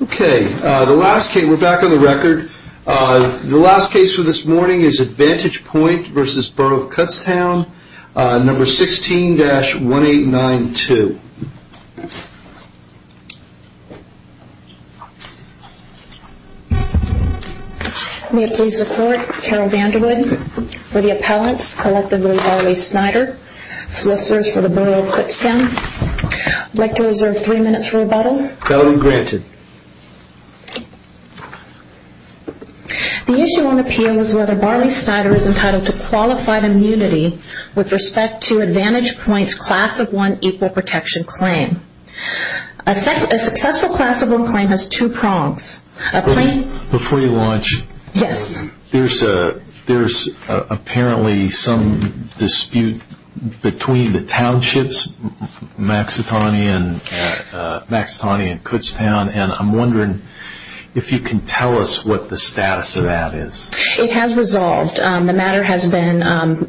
Okay, the last case, we're back on the record. The last case for this morning is Advantage Point v. Borough of Kutztown, number 16-1892. May it please the court, Carol Vanderwood for the appellants, collectively Harley Snyder, solicitors for the Borough of Kutztown. I'd like to reserve three minutes for rebuttal. That will be granted. The issue on appeal is whether Barney Snyder is entitled to qualified immunity with respect to Advantage Point's class of one equal protection claim. A successful class of one claim has two prongs. Before you launch, there's apparently some dispute between the townships, Maxotony and Kutztown, and I'm wondering if you can tell us what the status of that is. It has resolved. The matter has been,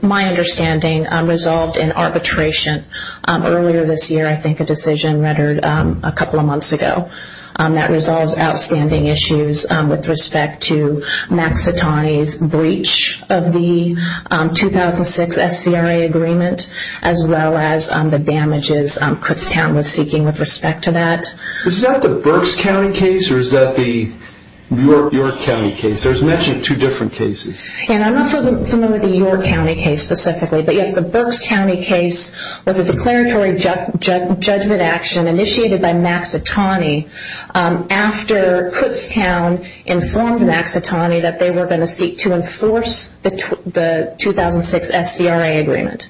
my understanding, resolved in arbitration earlier this year. I think a decision rendered a couple of months ago. That resolves outstanding issues with respect to Maxotony's breach of the 2006 SCRA agreement, as well as the damages Kutztown was seeking with respect to that. Is that the Berks County case, or is that the York County case? There's actually two different cases. I'm not familiar with the York County case specifically, but yes, the Berks County case was a declaratory judgment action initiated by Maxotony after Kutztown informed Maxotony that they were going to seek to enforce the 2006 SCRA agreement.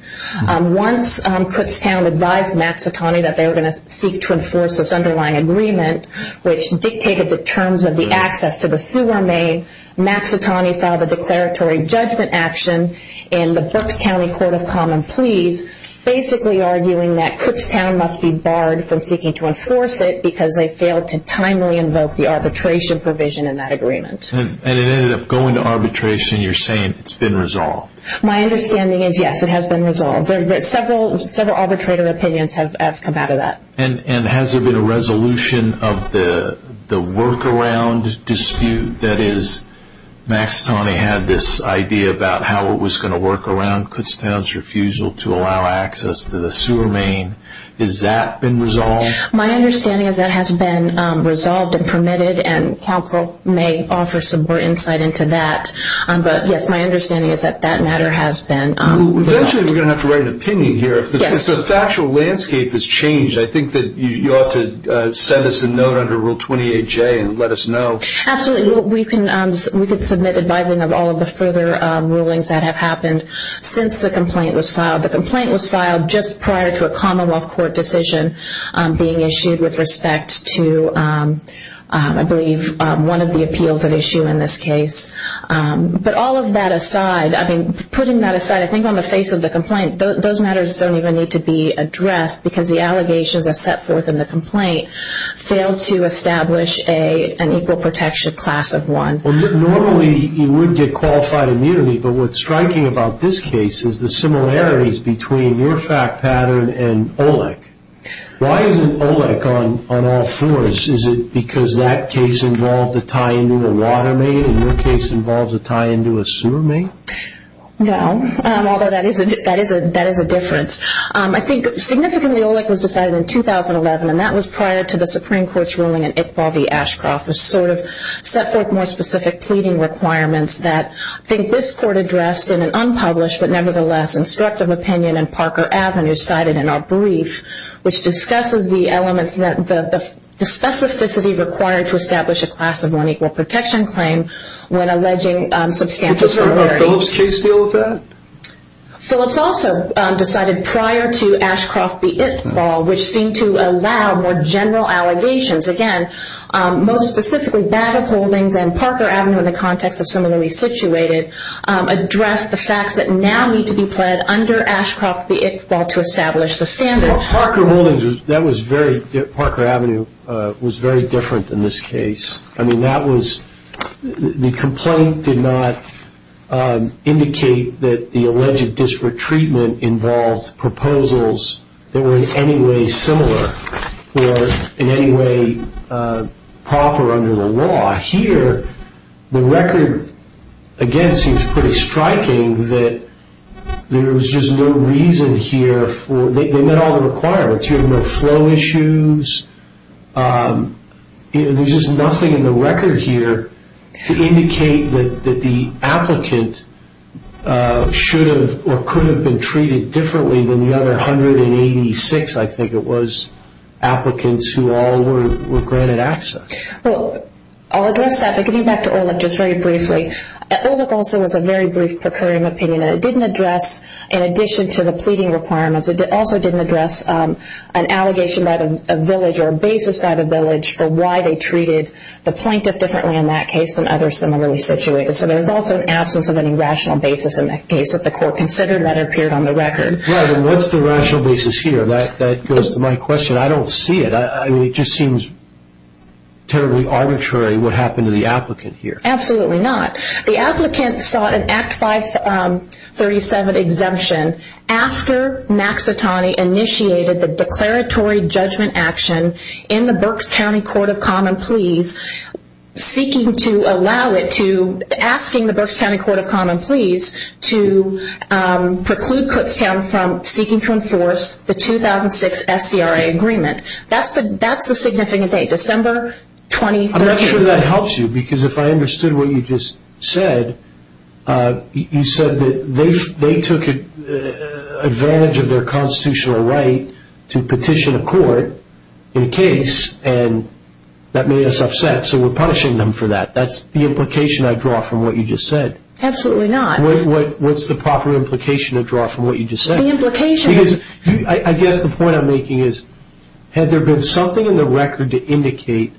Once Kutztown advised Maxotony that they were going to seek to enforce this underlying agreement, which dictated the terms of the access to the sewer main, Maxotony filed a declaratory judgment action in the Berks County Court of Common Pleas, basically arguing that Kutztown must be barred from seeking to enforce it because they failed to timely invoke the arbitration provision in that agreement. And it ended up going to arbitration, and you're saying it's been resolved? My understanding is, yes, it has been resolved. Several arbitrator opinions have come out of that. And has there been a resolution of the workaround dispute? That is, Maxotony had this idea about how it was going to work around Kutztown's refusal to allow access to the sewer main. Has that been resolved? My understanding is that has been resolved and permitted, and counsel may offer some more insight into that. But yes, my understanding is that that matter has been resolved. Eventually, we're going to have to write an opinion here. If the factual landscape has changed, I think that you ought to send us a note under Rule 28J and let us know. Absolutely. We can submit advising of all of the further rulings that have happened since the complaint was filed. The complaint was filed just prior to a Commonwealth Court decision being issued with respect to, I believe, one of the appeals at issue in this case. But all of that aside, I mean, putting that aside, I think on the face of the complaint, those matters don't even need to be addressed because the allegations that are set forth in the complaint fail to establish an equal protection class of one. Normally, you would get qualified immunity, but what's striking about this case is the similarities between your fact pattern and OLEC. Why isn't OLEC on all fours? Is it because that case involved a tie-in to a water main and your case involves a tie-in to a sewer main? No, although that is a difference. I think significantly OLEC was decided in 2011, and that was prior to the Supreme Court's ruling in Iqbal v. Ashcroft, which sort of set forth more specific pleading requirements that I think this Court addressed in an unpublished but nevertheless instructive opinion in Parker Avenue cited in our brief, which discusses the elements, the specificity required to establish a class of one equal protection claim when alleging substantial severity. Did Phillips' case deal with that? Phillips also decided prior to Ashcroft v. Iqbal, which seemed to allow more general allegations, again, most specifically Bag of Holdings and Parker Avenue in the context of similarly situated, address the facts that now need to be pled under Ashcroft v. Iqbal to establish the standard. Parker Avenue was very different than this case. The complaint did not indicate that the alleged disparate treatment involved proposals that were in any way similar or in any way proper under the law. Here, the record, again, seems pretty striking that there was just no reason here for, they met all the requirements. You have no flow issues. There's just nothing in the record here to indicate that the applicant should have or could have been treated differently than the other 186, I think it was, applicants who all were granted access. Well, I'll address that, but getting back to Olick, just very briefly, Olick also was a very brief procuring opinion, and it didn't address, in addition to the pleading requirements, it also didn't address an allegation by the village or a basis by the village for why they treated the plaintiff differently in that case than others similarly situated. So there was also an absence of any rational basis in the case that the court considered that appeared on the record. What's the rational basis here? That goes to my question. I don't see it. It just seems terribly arbitrary what happened to the applicant here. Absolutely not. The applicant sought an Act 537 exemption after Maxitani initiated the declaratory judgment action in the Berks County Court of Common Pleas seeking to allow it to, asking the Berks County Court of Common Pleas to preclude Kutztown from seeking to enforce the 2006 SCRA agreement. That's the significant date, December 2013. I'm not sure that helps you, because if I understood what you just said, you said that they took advantage of their constitutional right to petition a court in a case, and that made us upset, so we're punishing them for that. That's the implication I draw from what you just said. Absolutely not. What's the proper implication to draw from what you just said? The implication is... I guess the point I'm making is, had there been something in the record to indicate,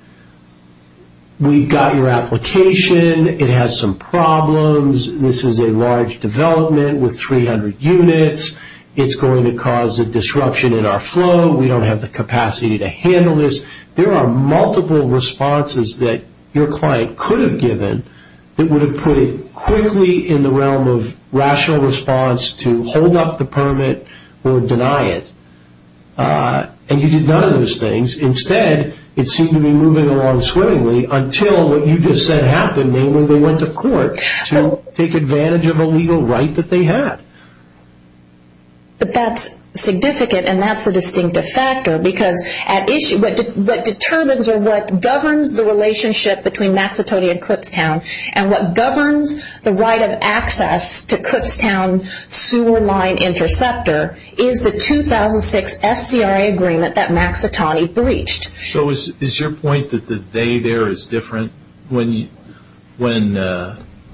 we've got your application, it has some problems, this is a large development with 300 units, it's going to cause a disruption in our flow, we don't have the capacity to handle this. There are multiple responses that your client could have given that would have put it quickly in the realm of rational response to hold up the permit or deny it, and you did none of those things. Instead, it seemed to be moving along swimmingly until what you just said happened, namely they went to court to take advantage of a legal right that they had. But that's significant, and that's a distinctive factor, because what determines or what governs the relationship between Mazzatoni and Clipstown, and what governs the right of access to Clipstown sewer line interceptor, is the 2006 SCRA agreement that Mazzatoni breached. So is your point that the they there is different? When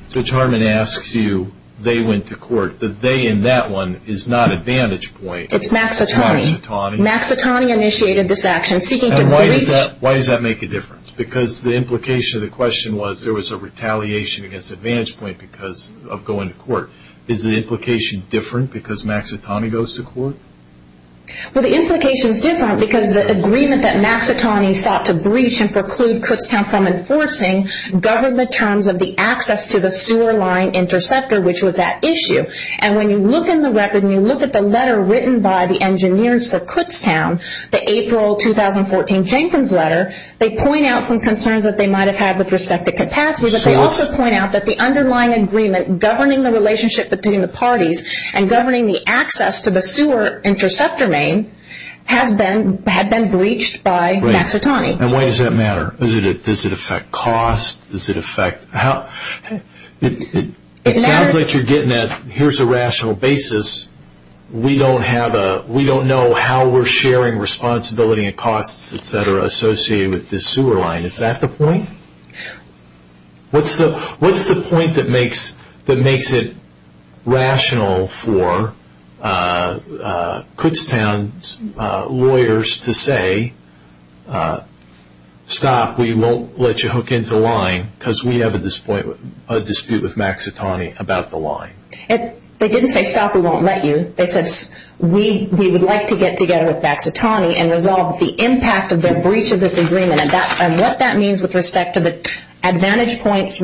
Judge Hartman asks you, they went to court, the they in that one is not advantage point. It's Mazzatoni. Mazzatoni. Mazzatoni initiated this action, seeking to breach... And why does that make a difference? Because the implication of the question was there was a retaliation against advantage point because of going to court. Is the implication different because Mazzatoni goes to court? Well, the implication is different because the agreement that Mazzatoni sought to breach and preclude Clipstown from enforcing governed the terms of the access to the sewer line interceptor, which was at issue. And when you look in the record and you look at the letter written by the engineers for Clipstown, the April 2014 Jenkins letter, they point out some concerns that they might have had with respect to capacity. They also point out that the underlying agreement governing the relationship between the parties and governing the access to the sewer interceptor main had been breached by Mazzatoni. And why does that matter? Does it affect cost? Does it affect... It sounds like you're getting at here's a rational basis. We don't know how we're sharing responsibility and costs, etc. associated with this sewer line. Is that the point? What's the point that makes it rational for Clipstown's lawyers to say, stop, we won't let you hook into the line because we have a dispute with Mazzatoni about the line? They didn't say, stop, we won't let you. They said, we would like to get together with Mazzatoni and resolve the impact of their breach of this agreement and what that means with respect to Mazzatoni's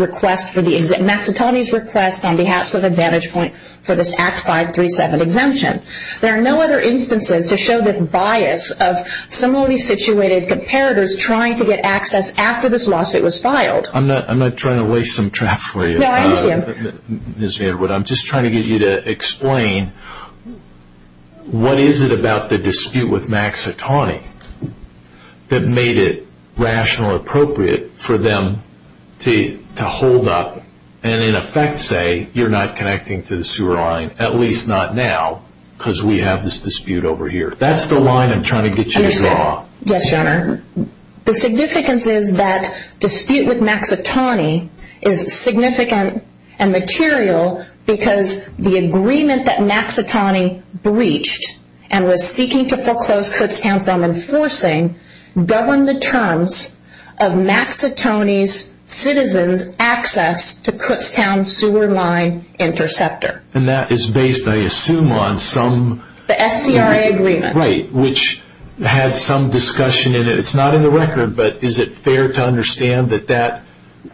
request on behalf of Advantage Point for this Act 537 exemption. There are no other instances to show this bias of similarly situated comparators trying to get access after this lawsuit was filed. I'm not trying to waste some traffic for you, Ms. Vanderwood. I'm just trying to get you to explain what is it about the dispute with Mazzatoni that made it rational and appropriate for them to hold up and in effect say, you're not connecting to the sewer line, at least not now, because we have this dispute over here. That's the line I'm trying to get you to draw. The significance is that dispute with Mazzatoni is significant and material because the agreement that Mazzatoni breached and was seeking to foreclose Clipstown from enforcing governed the terms of Mazzatoni's citizens' access to Clipstown's sewer line interceptor. And that is based, I assume, on some... The SCRA agreement. Right, which had some discussion in it. It's not in the record, but is it fair to understand that that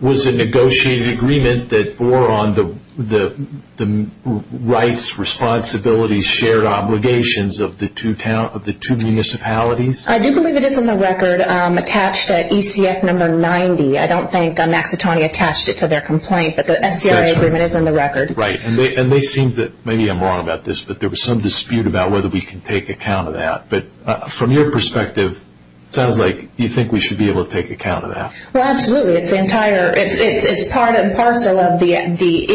was a negotiated agreement that bore on the rights, responsibilities, shared obligations of the two municipalities? I do believe it is in the record attached at ECF number 90. I don't think Mazzatoni attached it to their complaint, but the SCRA agreement is in the record. Right, and they seem to... Maybe I'm wrong about this, but there was some dispute about whether we can take account of that. But from your perspective, it sounds like you think we should be able to take account of that. Well, absolutely. It's part and parcel of the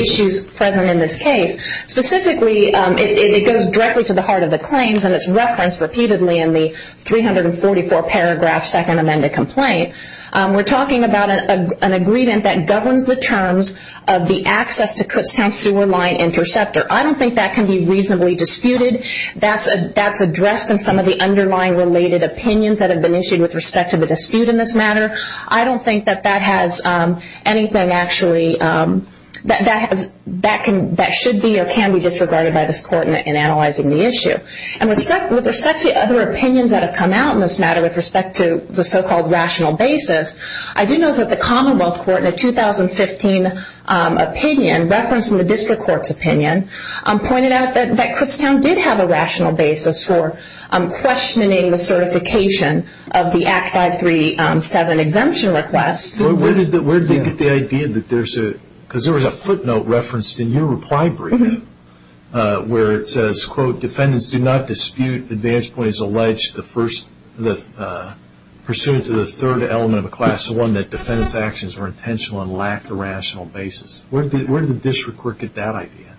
issues present in this case. Specifically, it goes directly to the heart of the claims, and it's referenced repeatedly in the 344 paragraph second amended complaint. We're talking about an agreement that governs the terms of the access to Clipstown's sewer line interceptor. I don't think that can be reasonably disputed. That's addressed in some of the underlying related opinions that have been issued with respect to the dispute in this matter. I don't think that that has anything actually... That should be or can be disregarded by this court in analyzing the issue. With respect to other opinions that have come out in this matter with respect to the so-called rational basis, I do know that the Commonwealth Court in a 2015 opinion, referenced in the district court's opinion, pointed out that Clipstown did have a rational basis for questioning the certification of the Act 537 exemption request. Where did they get the idea that there's a... Because there was a footnote referenced in your reply brief where it says, quote, defendants do not dispute advantage points alleged pursuant to the third element of a class 1 that defendants' actions were intentional and lacked a rational basis. Where did the district court get that idea,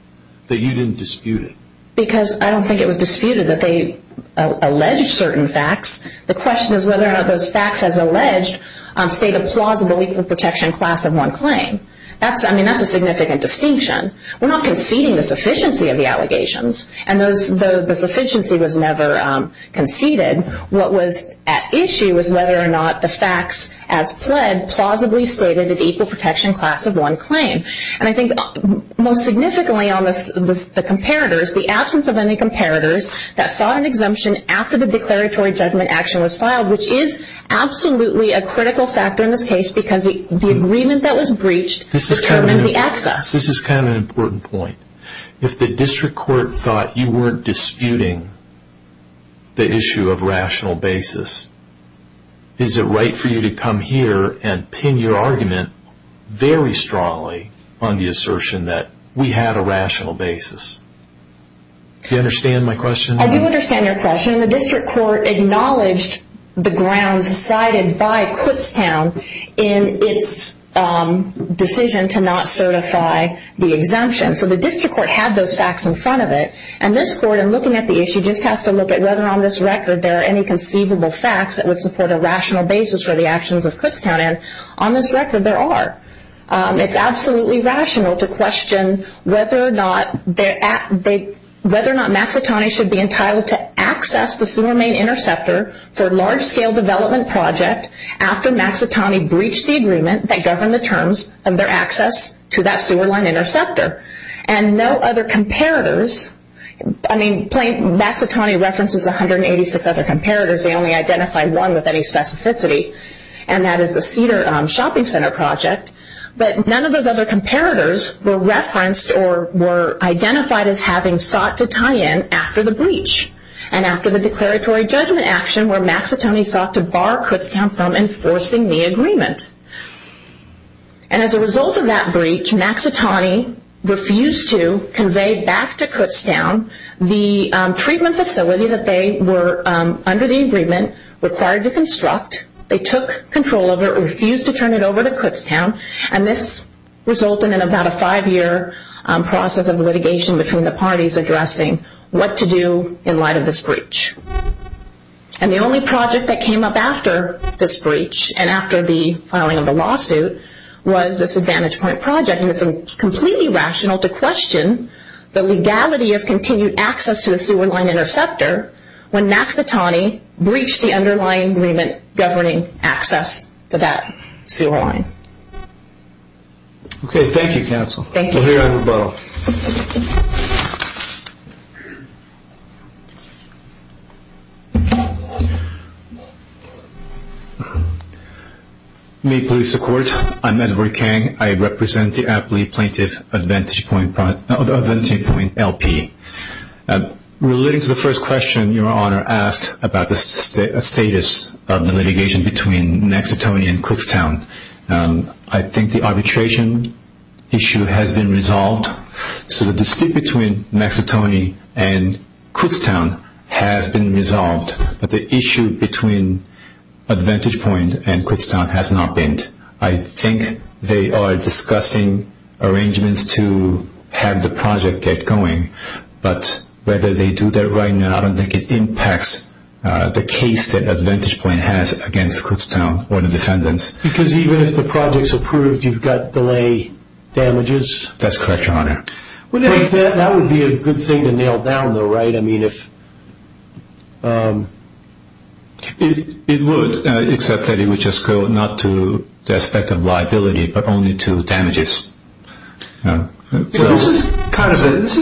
that you didn't dispute it? Because I don't think it was disputed that they alleged certain facts. The question is whether or not those facts has alleged state a plausible legal protection class of 1 claim. I mean, that's a significant distinction. We're not conceding the sufficiency of the allegations. And though the sufficiency was never conceded, what was at issue was whether or not the facts as pled plausibly stated an equal protection class of 1 claim. And I think most significantly on the comparators, the absence of any comparators that sought an exemption after the declaratory judgment action was filed, which is absolutely a critical factor in this case because the agreement that was breached determined the excess. This is kind of an important point. If the district court thought you weren't disputing the issue of rational basis, is it right for you to come here and pin your argument very strongly on the assertion that we had a rational basis? Do you understand my question? I do understand your question. The district court acknowledged the grounds cited by Kutztown in its decision to not certify the exemption. So the district court had those facts in front of it. And this court in looking at the issue just has to look at whether on this record there are any conceivable facts that would support a rational basis for the actions of Kutztown. And on this record, there are. It's absolutely rational to question whether or not Mazzatoni should be entitled to access the sewer main interceptor for a large-scale development project after Mazzatoni breached the agreement that governed the terms of their access to that sewer line interceptor. And no other comparators, I mean, Mazzatoni references 186 other comparators. They only identify one with any specificity, and that is the Cedar Shopping Center project. But none of those other comparators were referenced or were identified as having sought to tie in after the breach and after the declaratory judgment action where Mazzatoni sought to bar Kutztown from enforcing the agreement. And as a result of that breach, Mazzatoni refused to convey back to Kutztown the treatment facility that they were, under the agreement, required to construct. They took control of it, refused to turn it over to Kutztown, and this resulted in about a five-year process of litigation between the parties addressing what to do in light of this breach. And the only project that came up after this breach and after the filing of the lawsuit was this Advantage Point project. And it's completely rational to question the legality of continued access to the sewer line interceptor when Mazzatoni breached the underlying agreement governing access to that sewer line. Okay, thank you, Counsel. Thank you. We'll hear on rebuttal. Thank you. May it please the Court. I'm Edward Kang. I represent the aptly plaintiff Advantage Point LP. Relating to the first question Your Honor asked about the status of the litigation between Mazzatoni and Kutztown, I think the arbitration issue has been resolved. So the dispute between Mazzatoni and Kutztown has been resolved, but the issue between Advantage Point and Kutztown has not been. I think they are discussing arrangements to have the project get going, but whether they do that right now, I don't think it impacts the case that Advantage Point has against Kutztown or the defendants. Because even if the project's approved, you've got delay damages? That's correct, Your Honor. That would be a good thing to nail down though, right? It would, except that it would just go not to the aspect of liability, but only to damages. This is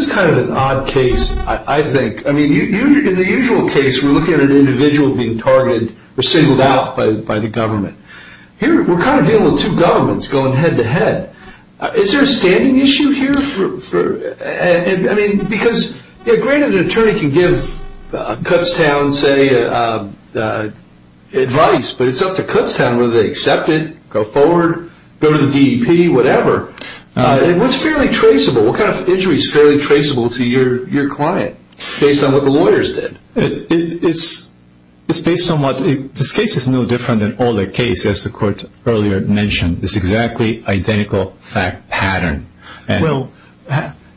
kind of an odd case, I think. In the usual case, we're looking at an individual being targeted or singled out by the government. Here, we're kind of dealing with two governments going head-to-head. Is there a standing issue here? Because granted, an attorney can give Kutztown, say, advice, but it's up to Kutztown whether they accept it, go forward, go to the DEP, whatever. What's fairly traceable? What kind of injury is fairly traceable to your client, based on what the lawyers did? This case is no different than all the cases the Court earlier mentioned. It's exactly identical fact pattern. Well,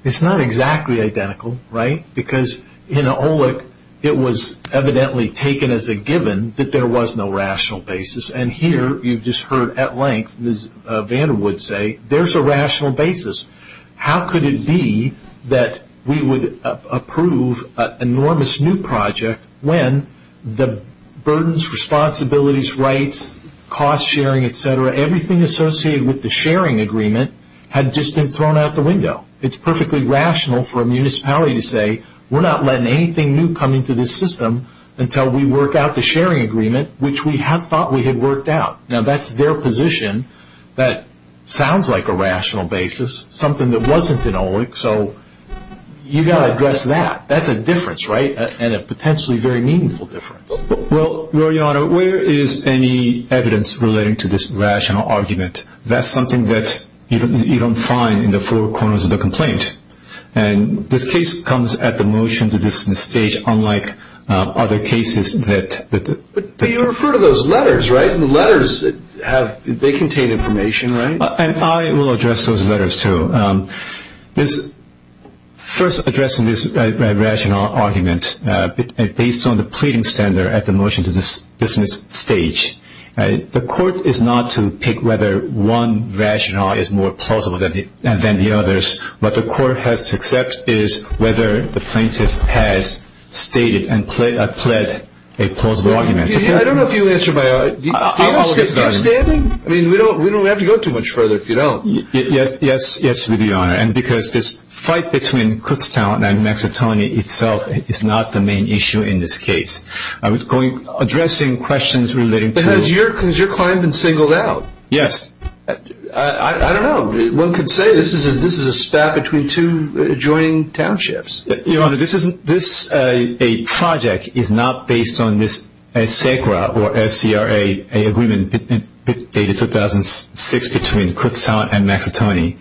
it's not exactly identical, right? Because in OLEC, it was evidently taken as a given that there was no rational basis. And here, you've just heard at length Ms. Vanderwood say, there's a rational basis. How could it be that we would approve an enormous new project when the burdens, responsibilities, rights, cost sharing, et cetera, everything associated with the sharing agreement, had just been thrown out the window? It's perfectly rational for a municipality to say, we're not letting anything new come into this system until we work out the sharing agreement, which we had thought we had worked out. Now, that's their position. That sounds like a rational basis, something that wasn't in OLEC. So, you've got to address that. That's a difference, right? And a potentially very meaningful difference. Well, Your Honor, where is any evidence relating to this rational argument? That's something that you don't find in the four corners of the complaint. And this case comes at the motion to this stage unlike other cases. But you refer to those letters, right? The letters, they contain information, right? And I will address those letters, too. First, addressing this rational argument, based on the pleading standard at the motion to this stage, the court is not to pick whether one rational is more plausible than the others. What the court has to accept is whether the plaintiff has stated and pled a plausible argument. I don't know if you answered my question. I mean, we don't have to go too much further if you don't. Yes, we do, Your Honor, and because this fight between Kutztown and Mazzatoni itself is not the main issue in this case. I was addressing questions relating to... Has your client been singled out? Yes. I don't know. One could say this is a spat between two adjoining townships. Your Honor, this project is not based on this SACRA or SCRA agreement dated 2006 between Kutztown and Mazzatoni.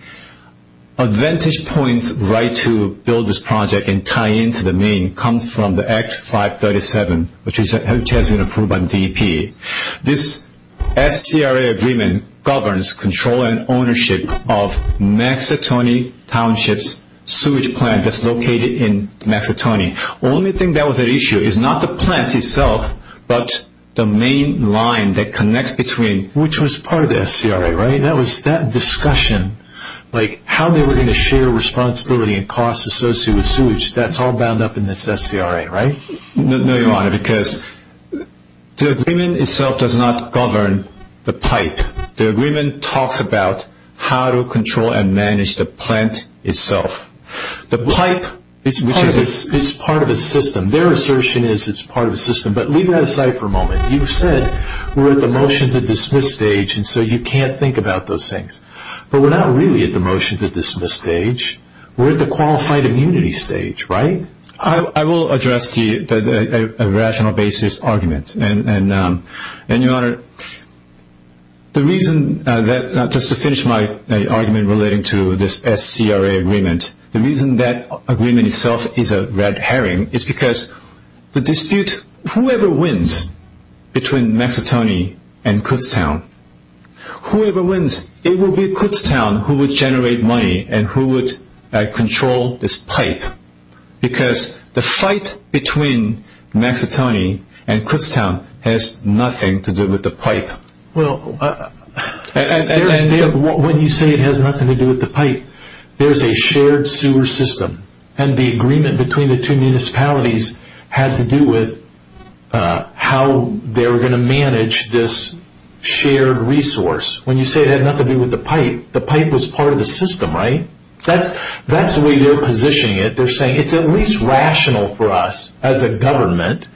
Advantage points right to build this project and tie into the main come from the Act 537, which has been approved by the DEP. This SCRA agreement governs control and ownership of Mazzatoni Township's sewage plant that's located in Mazzatoni. Only thing that was an issue is not the plant itself, but the main line that connects between... Which was part of the SCRA, right? That was that discussion, like how they were going to share responsibility and costs associated with sewage. That's all bound up in this SCRA, right? No, Your Honor, because the agreement itself does not govern the pipe. The agreement talks about how to control and manage the plant itself. The pipe is part of the system. Their assertion is it's part of the system, but leave that aside for a moment. You said we're at the motion to dismiss stage, and so you can't think about those things. But we're not really at the motion to dismiss stage. We're at the qualified immunity stage, right? I will address the rational basis argument. And, Your Honor, the reason that, just to finish my argument relating to this SCRA agreement, the reason that agreement itself is a red herring is because the dispute, whoever wins between Mazzatoni and Kutztown, whoever wins, it will be Kutztown who will generate money and who would control this pipe. Because the fight between Mazzatoni and Kutztown has nothing to do with the pipe. When you say it has nothing to do with the pipe, there's a shared sewer system. And the agreement between the two municipalities had to do with how they were going to manage this shared resource. When you say it had nothing to do with the pipe, the pipe was part of the system, right? That's the way they're positioning it. They're saying it's at least rational for us, as a government,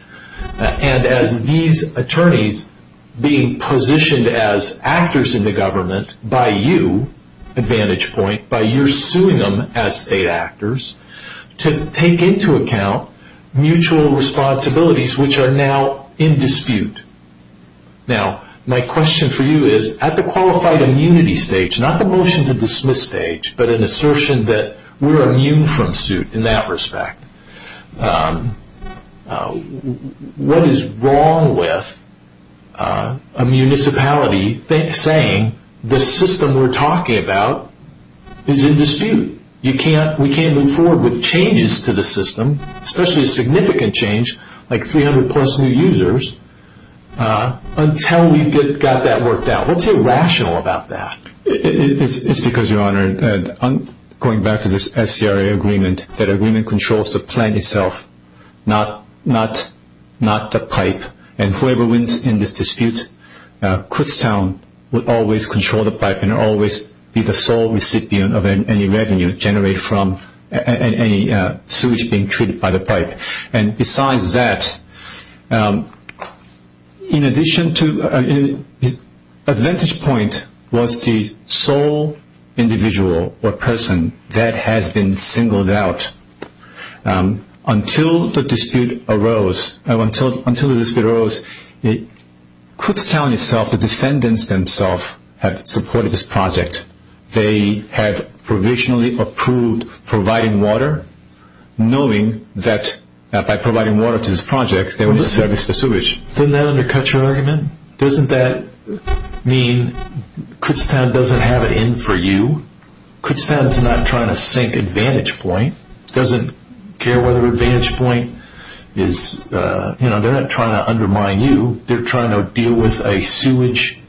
and as these attorneys being positioned as actors in the government by you, Advantage Point, by your suing them as state actors, to take into account mutual responsibilities which are now in dispute. Now, my question for you is, at the qualified immunity stage, not the motion to dismiss stage, but an assertion that we're immune from suit in that respect, what is wrong with a municipality saying the system we're talking about is in dispute? We can't move forward with changes to the system, especially a significant change like 300-plus new users, until we've got that worked out. What's irrational about that? It's because, Your Honor, going back to this SCRA agreement, that agreement controls the plan itself, not the pipe. And whoever wins in this dispute, Kutztown will always control the pipe and always be the sole recipient of any revenue generated from any sewage being treated by the pipe. And besides that, Advantage Point was the sole individual or person that has been singled out. Until the dispute arose, Kutztown itself, the defendants themselves, had supported this project. They had provisionally approved providing water, knowing that by providing water to this project, they would service the sewage. Doesn't that undercut your argument? Doesn't that mean Kutztown doesn't have it in for you? Kutztown is not trying to sink Advantage Point. It doesn't care whether Advantage Point is, you know, they're not trying to undermine you. They're trying to deal with a sewage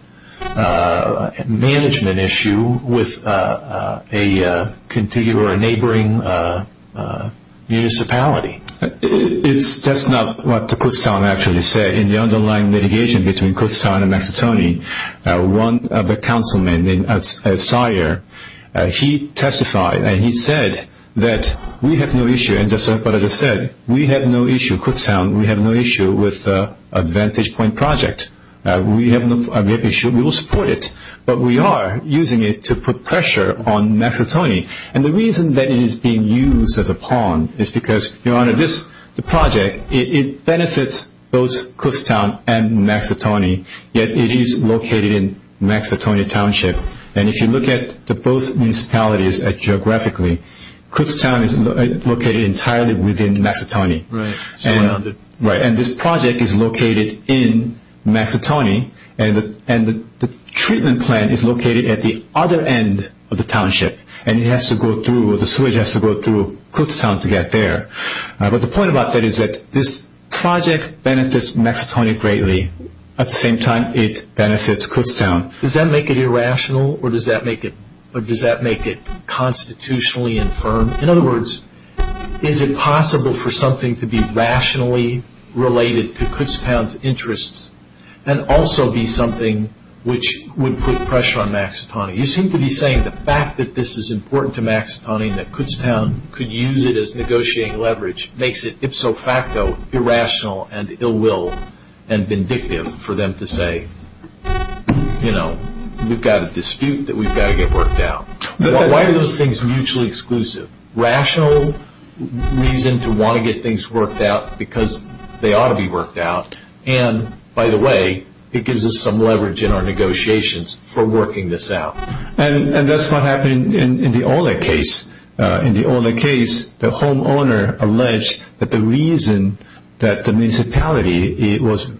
management issue with a contiguous or neighboring municipality. That's not what Kutztown actually said. In the underlying litigation between Kutztown and Mazzutoni, one of the councilmen named Sire, he testified. And he said that we have no issue. And just like what I just said, we have no issue, Kutztown, we have no issue with Advantage Point project. We have no issue. We will support it. But we are using it to put pressure on Mazzutoni. And the reason that it is being used as a pawn is because, Your Honor, this project, it benefits both Kutztown and Mazzutoni. Yet it is located in Mazzutoni Township. And if you look at both municipalities geographically, Kutztown is located entirely within Mazzutoni. Right. Right. And this project is located in Mazzutoni. And the treatment plant is located at the other end of the township. And it has to go through, the sewage has to go through Kutztown to get there. But the point about that is that this project benefits Mazzutoni greatly. At the same time, it benefits Kutztown. Does that make it irrational? Or does that make it constitutionally infirm? In other words, is it possible for something to be rationally related to Kutztown's interests and also be something which would put pressure on Mazzutoni? You seem to be saying the fact that this is important to Mazzutoni, that Kutztown could use it as negotiating leverage, makes it ipso facto irrational and ill will and vindictive for them to say, you know, we've got a dispute that we've got to get worked out. Why are those things mutually exclusive? Rational reason to want to get things worked out because they ought to be worked out. And, by the way, it gives us some leverage in our negotiations for working this out. And that's what happened in the Olick case. In the Olick case, the homeowner alleged that the reason that the municipality was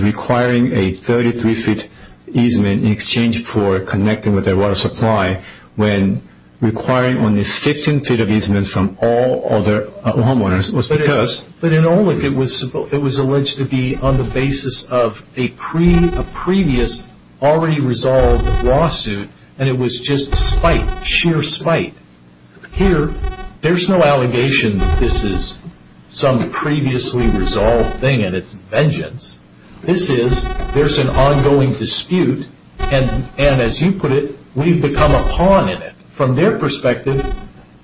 requiring a 33-feet easement in exchange for connecting with their water supply when requiring only 15 feet of easement from all other homeowners was because that in Olick it was alleged to be on the basis of a previous already resolved lawsuit and it was just spite, sheer spite. Here, there's no allegation that this is some previously resolved thing and it's vengeance. This is, there's an ongoing dispute and, as you put it, we've become a pawn in it. From their perspective,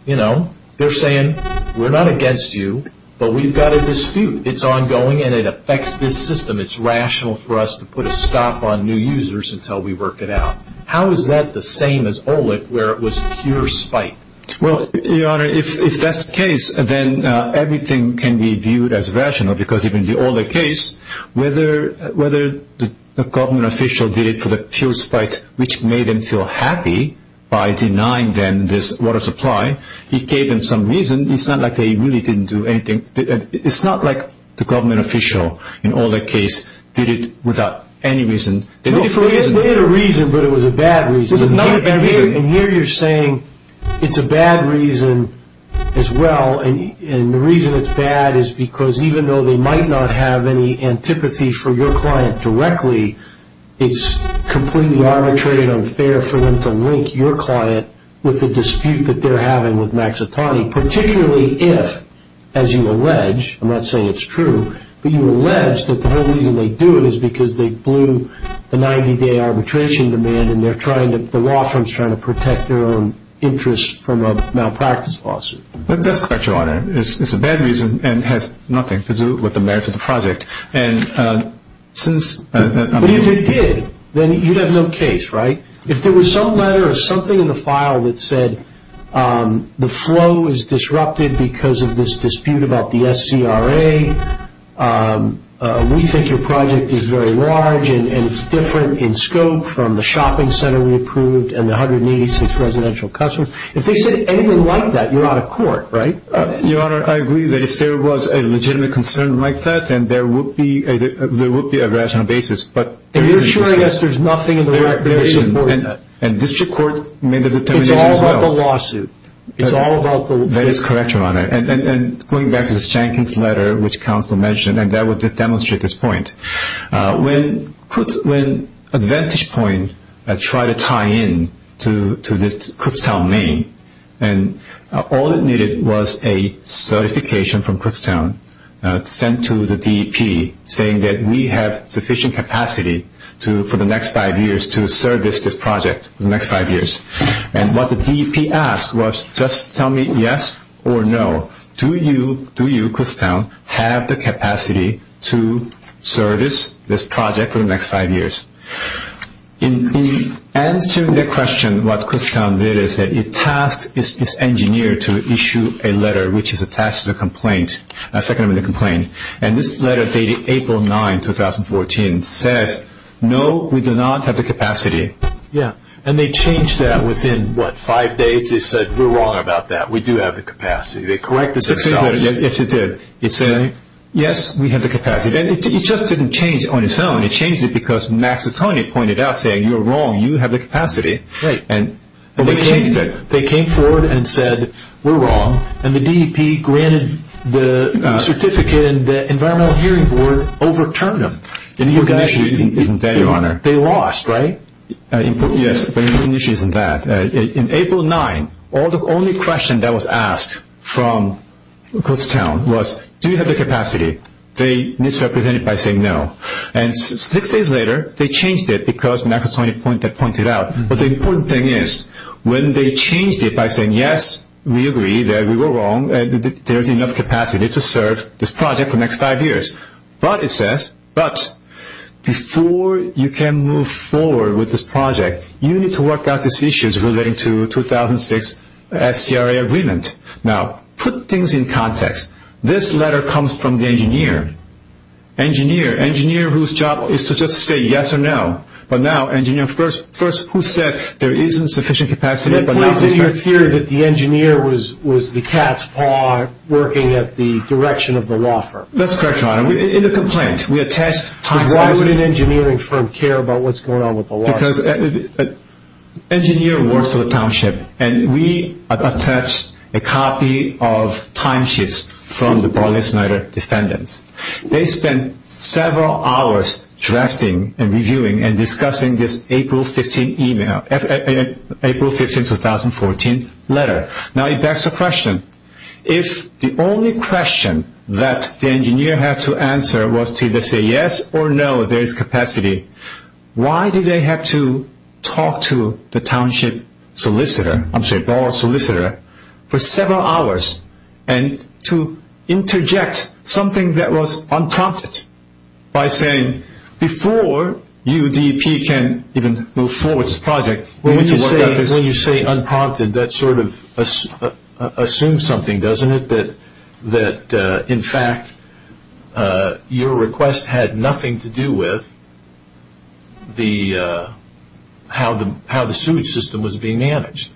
you know, they're saying, we're not against you, but we've got a dispute. It's ongoing and it affects this system. It's rational for us to put a stop on new users until we work it out. How is that the same as Olick where it was pure spite? Well, Your Honor, if that's the case, then everything can be viewed as rational because even the Olick case, whether the government official did it for the pure spite, which made them feel happy by denying them this water supply, it gave them some reason. It's not like they really didn't do anything. It's not like the government official in Olick case did it without any reason. They had a reason, but it was a bad reason. It was not a bad reason. And here you're saying it's a bad reason as well. And the reason it's bad is because even though they might not have any antipathy for your client directly, it's completely arbitrary and unfair for them to link your client with the dispute that they're having with Maxitani, particularly if, as you allege, I'm not saying it's true, but you allege that the whole reason they do it is because they blew the 90-day arbitration demand and the law firm's trying to protect their own interests from a malpractice lawsuit. That's correct, Your Honor. It's a bad reason and has nothing to do with the merits of the project. But if it did, then you'd have no case, right? If there was some letter or something in the file that said the flow is disrupted because of this dispute about the SCRA, we think your project is very large and it's different in scope from the shopping center we approved and the 186 residential customers, if they said anything like that, you're out of court, right? Your Honor, I agree that if there was a legitimate concern like that, then there would be a rational basis. But there isn't. You're assuring us there's nothing in the record that supports that. There isn't. And district court made the determination as well. It's all about the lawsuit. It's all about the lawsuit. That is correct, Your Honor. And going back to this Jenkins letter, which counsel mentioned, and that would demonstrate this point, when Advantage Point tried to tie in to the Kutztown main, and all it needed was a certification from Kutztown sent to the DEP saying that we have sufficient capacity for the next five years to service this project for the next five years. And what the DEP asked was just tell me yes or no. Do you, Kutztown, have the capacity to service this project for the next five years? In answering that question, what Kutztown did is it tasked its engineer to issue a letter, which is attached to the complaint, a second amendment complaint. And this letter dated April 9, 2014, says no, we do not have the capacity. Yeah. And they changed that within, what, five days? We do have the capacity. They corrected themselves. Yes, they did. It said, yes, we have the capacity. And it just didn't change on its own. It changed it because Mazzatoni pointed out, saying, you're wrong, you have the capacity. Right. And they changed it. They came forward and said, we're wrong. And the DEP granted the certificate, and the Environmental Hearing Board overturned them. And the issue isn't that, Your Honor. They lost, right? Yes. But the issue isn't that. In April 9, the only question that was asked from Kutztown was, do you have the capacity? They misrepresented it by saying no. And six days later, they changed it because Mazzatoni pointed out. But the important thing is when they changed it by saying, yes, we agree that we were wrong, there's enough capacity to serve this project for the next five years. But it says, but before you can move forward with this project, you need to work out these issues relating to 2006 SCRA agreement. Now, put things in context. This letter comes from the engineer. Engineer. Engineer whose job is to just say yes or no. But now, engineer first who said there isn't sufficient capacity. But now he's back. You're theorizing that the engineer was the cat's paw working at the direction of the law firm. That's correct, Your Honor. In the complaint, we attest. Why would an engineering firm care about what's going on with the law firm? Because engineer works for the township. And we attest a copy of timesheets from the Barney Snyder defendants. They spent several hours drafting and reviewing and discussing this April 15, 2014 letter. Now, it begs the question, if the only question that the engineer had to answer was to either say yes or no, there is capacity, why did they have to talk to the township solicitor, I'm sorry, bar solicitor for several hours and to interject something that was unprompted by saying, before you DEP can even move forward with this project, you need to work out this issue. When you say unprompted, that sort of assumes something, doesn't it? That, in fact, your request had nothing to do with how the sewage system was being managed.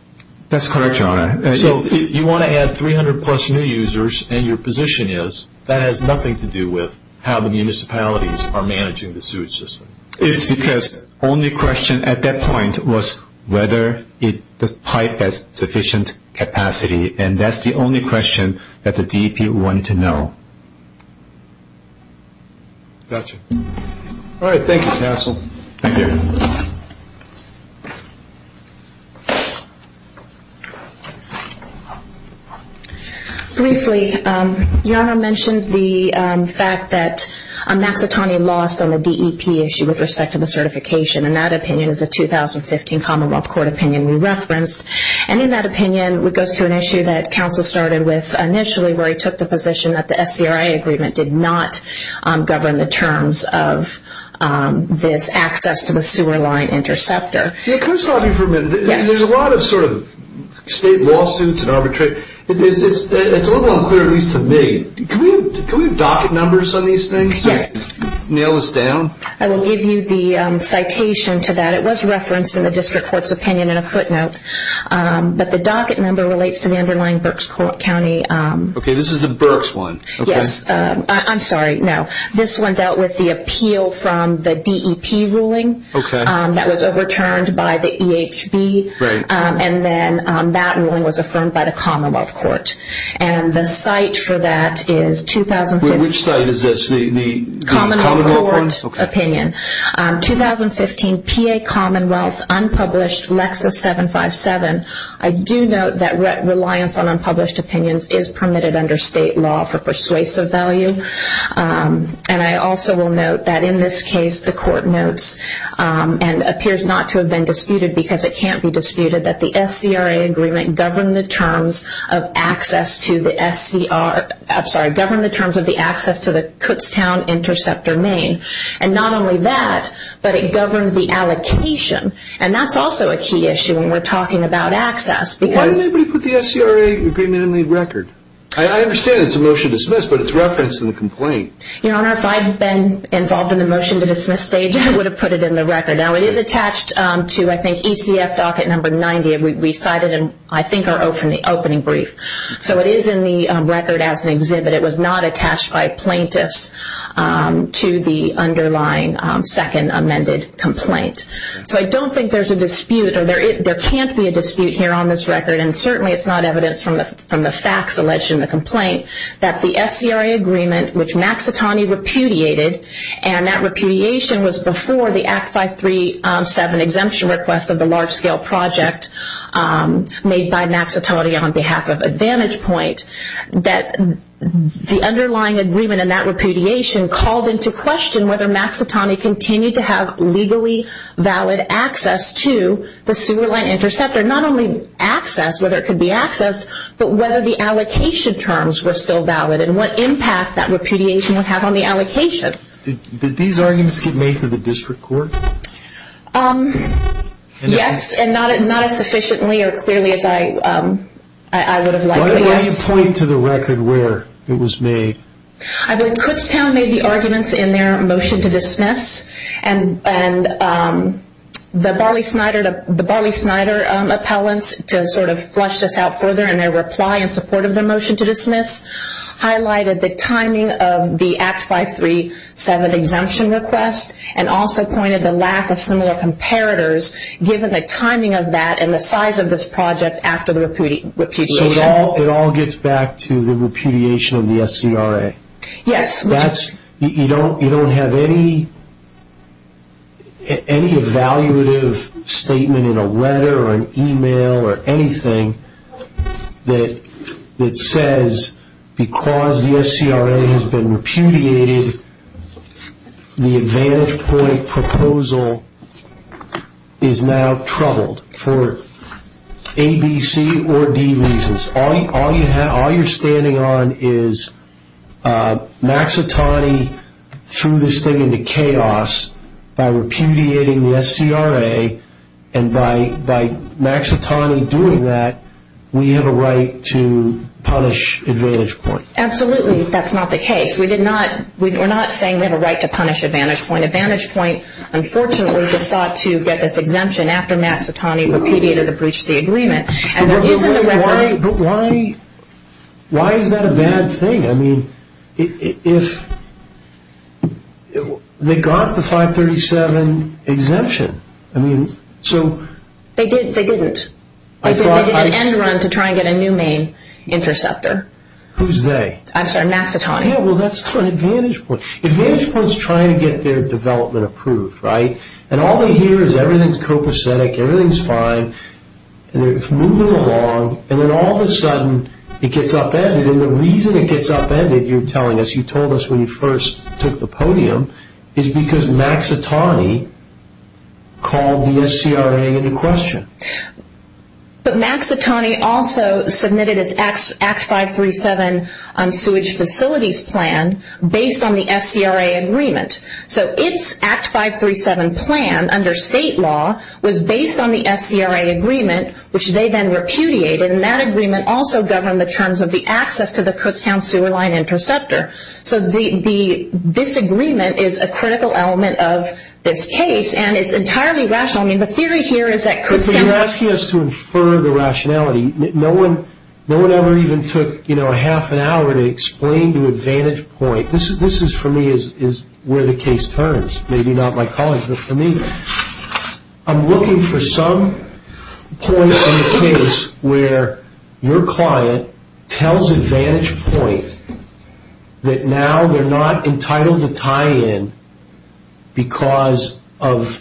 That's correct, Your Honor. So you want to add 300-plus new users, and your position is that has nothing to do with how the municipalities are managing the sewage system. It's because the only question at that point was whether the pipe has sufficient capacity, and that's the only question that the DEP wanted to know. Got you. All right. Thank you, counsel. Thank you. Briefly, Your Honor mentioned the fact that Mazzatoni lost on the DEP issue with respect to the certification, and that opinion is a 2015 Commonwealth Court opinion we referenced, and in that opinion it goes to an issue that counsel started with initially where he took the position that the SCRA agreement did not govern the terms of this access to the sewer line interceptor. Can I stop you for a minute? Yes. There's a lot of sort of state lawsuits and arbitration. It's a little unclear, at least to me. Can we have docket numbers on these things? Yes. Nail this down? I will give you the citation to that. It was referenced in the district court's opinion in a footnote, but the docket number relates to the underlying Berks County. Okay. This is the Berks one. Yes. I'm sorry, no. This one dealt with the appeal from the DEP ruling. Okay. That was overturned by the EHB. Right. And then that ruling was affirmed by the Commonwealth Court. And the site for that is 2015. Which site is this? The Commonwealth Court? Commonwealth Court opinion. Okay. 2015 PA Commonwealth unpublished Lexis 757. I do note that reliance on unpublished opinions is permitted under state law for persuasive value. And I also will note that in this case the court notes and appears not to have been disputed because it can't be disputed that the SCRA agreement governed the terms of access to the SCR, I'm sorry, governed the terms of the access to the Kutztown Interceptor Main. And not only that, but it governed the allocation. And that's also a key issue when we're talking about access. Why did nobody put the SCRA agreement in the record? I understand it's a motion to dismiss, but it's referenced in the complaint. Your Honor, if I had been involved in the motion to dismiss stage, I would have put it in the record. Now, it is attached to, I think, ECF docket number 90. We cite it in, I think, our opening brief. So it is in the record as an exhibit. It was not attached by plaintiffs to the underlying second amended complaint. So I don't think there's a dispute or there can't be a dispute here on this record. And certainly it's not evidence from the facts alleged in the complaint that the SCRA agreement, which Maxitone repudiated, and that repudiation was before the Act 537 exemption request of the large-scale project made by Maxitone on behalf of Advantage Point, that the underlying agreement in that repudiation called into question whether Maxitone continued to have legally valid access to the sewer line interceptor. Not only access, whether it could be accessed, but whether the allocation terms were still valid and what impact that repudiation would have on the allocation. Did these arguments get made to the district court? Yes, and not as sufficiently or clearly as I would have liked. Why don't you point to the record where it was made? I believe Kutztown made the arguments in their motion to dismiss. And the Barley-Snyder appellants to sort of flush this out further in their reply in support of their motion to dismiss highlighted the timing of the Act 537 exemption request and also pointed the lack of similar comparators given the timing of that and the size of this project after the repudiation. So it all gets back to the repudiation of the SCRA? Yes. You don't have any evaluative statement in a letter or an email or anything that says because the SCRA has been repudiated, the Advantage Point proposal is now troubled for A, B, C, or D reasons. All you're standing on is Maxitani threw this thing into chaos by repudiating the SCRA and by Maxitani doing that, we have a right to punish Advantage Point. Absolutely that's not the case. We're not saying we have a right to punish Advantage Point. Advantage Point unfortunately just sought to get this exemption after Maxitani repudiated the breach of the agreement. But why is that a bad thing? I mean, they got the 537 exemption. They didn't. They did an end run to try and get a new main interceptor. Who's they? I'm sorry, Maxitani. Yeah, well, that's not Advantage Point. Advantage Point's trying to get their development approved, right? And all they hear is everything's copacetic, everything's fine, and they're moving along, and then all of a sudden it gets upended. And the reason it gets upended, you're telling us, you told us when you first took the podium, is because Maxitani called the SCRA into question. But Maxitani also submitted its Act 537 sewage facilities plan based on the SCRA agreement. So its Act 537 plan under state law was based on the SCRA agreement, which they then repudiated, and that agreement also governed the terms of the access to the Kutztown sewer line interceptor. So this agreement is a critical element of this case, and it's entirely rational. I mean, the theory here is that Kutztown... But you're asking us to infer the rationality. No one ever even took, you know, a half an hour to explain to Advantage Point. This is, for me, where the case turns. Maybe not my colleagues, but for me. I'm looking for some point in the case where your client tells Advantage Point that now they're not entitled to tie-in because of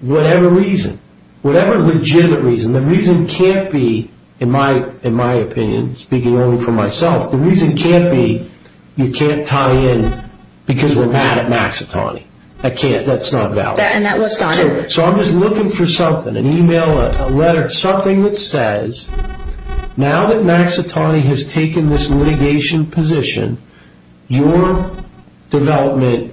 whatever reason, whatever legitimate reason. The reason can't be, in my opinion, speaking only for myself, the reason can't be you can't tie-in because we're mad at Maxitani. That's not valid. So I'm just looking for something, an email, a letter, something that says, Now that Maxitani has taken this litigation position, your development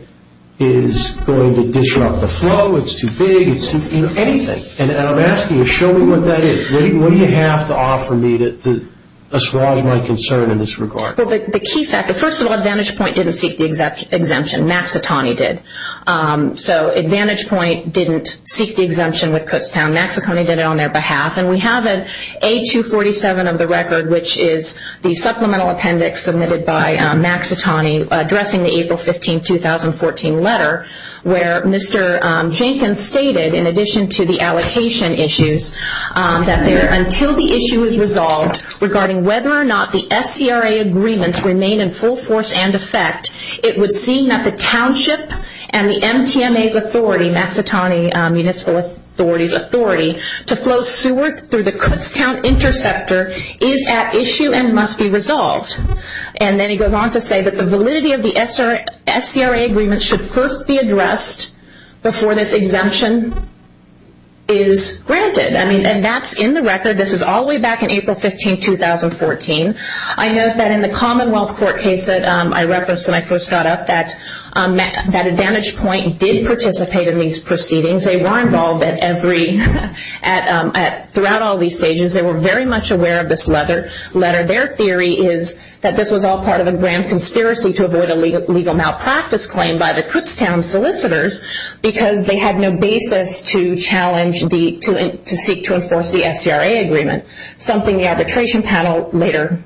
is going to disrupt the flow. It's too big. It's too, you know, anything. And I'm asking you, show me what that is. What do you have to offer me to assuage my concern in this regard? Well, the key fact, first of all, Advantage Point didn't seek the exemption. Maxitani did. So Advantage Point didn't seek the exemption with Kutztown. Maxitani did it on their behalf. And we have an A247 of the record, which is the supplemental appendix submitted by Maxitani addressing the April 15, 2014 letter where Mr. Jenkins stated, in addition to the allocation issues, that until the issue is resolved regarding whether or not the SCRA agreements remain in full force and effect, it would seem that the township and the MTMA's authority, Maxitani Municipal Authority's authority, to flow sewer through the Kutztown interceptor is at issue and must be resolved. And then he goes on to say that the validity of the SCRA agreement should first be addressed before this exemption is granted. And that's in the record. This is all the way back in April 15, 2014. I note that in the Commonwealth Court case that I referenced when I first got up, that Advantage Point did participate in these proceedings. They were involved throughout all these stages. They were very much aware of this letter. Their theory is that this was all part of a grand conspiracy to avoid a legal malpractice claim by the Kutztown solicitors because they had no basis to seek to enforce the SCRA agreement, something the arbitration panel later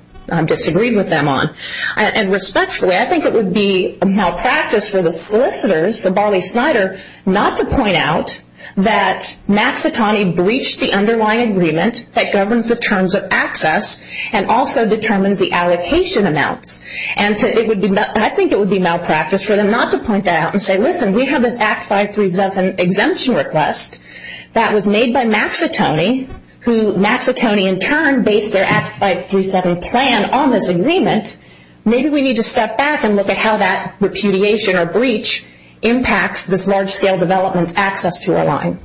disagreed with them on. And respectfully, I think it would be a malpractice for the solicitors, for Barley Snyder, not to point out that Maxitani breached the underlying agreement that governs the terms of access and also determines the allocation amounts. And I think it would be malpractice for them not to point that out and say, listen, we have this Act 537 exemption request that was made by Maxitani, who Maxitani in turn based their Act 537 plan on this agreement. Maybe we need to step back and look at how that repudiation or breach impacts this large-scale development's access to our line.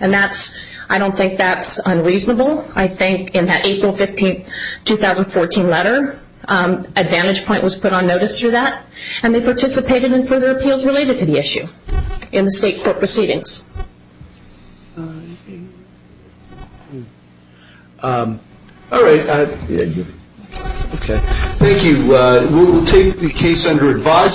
And I don't think that's unreasonable. I think in that April 15, 2014 letter, Advantage Point was put on notice through that, and they participated in further appeals related to the issue in the state court proceedings. All right. Thank you. We'll take the case under advise.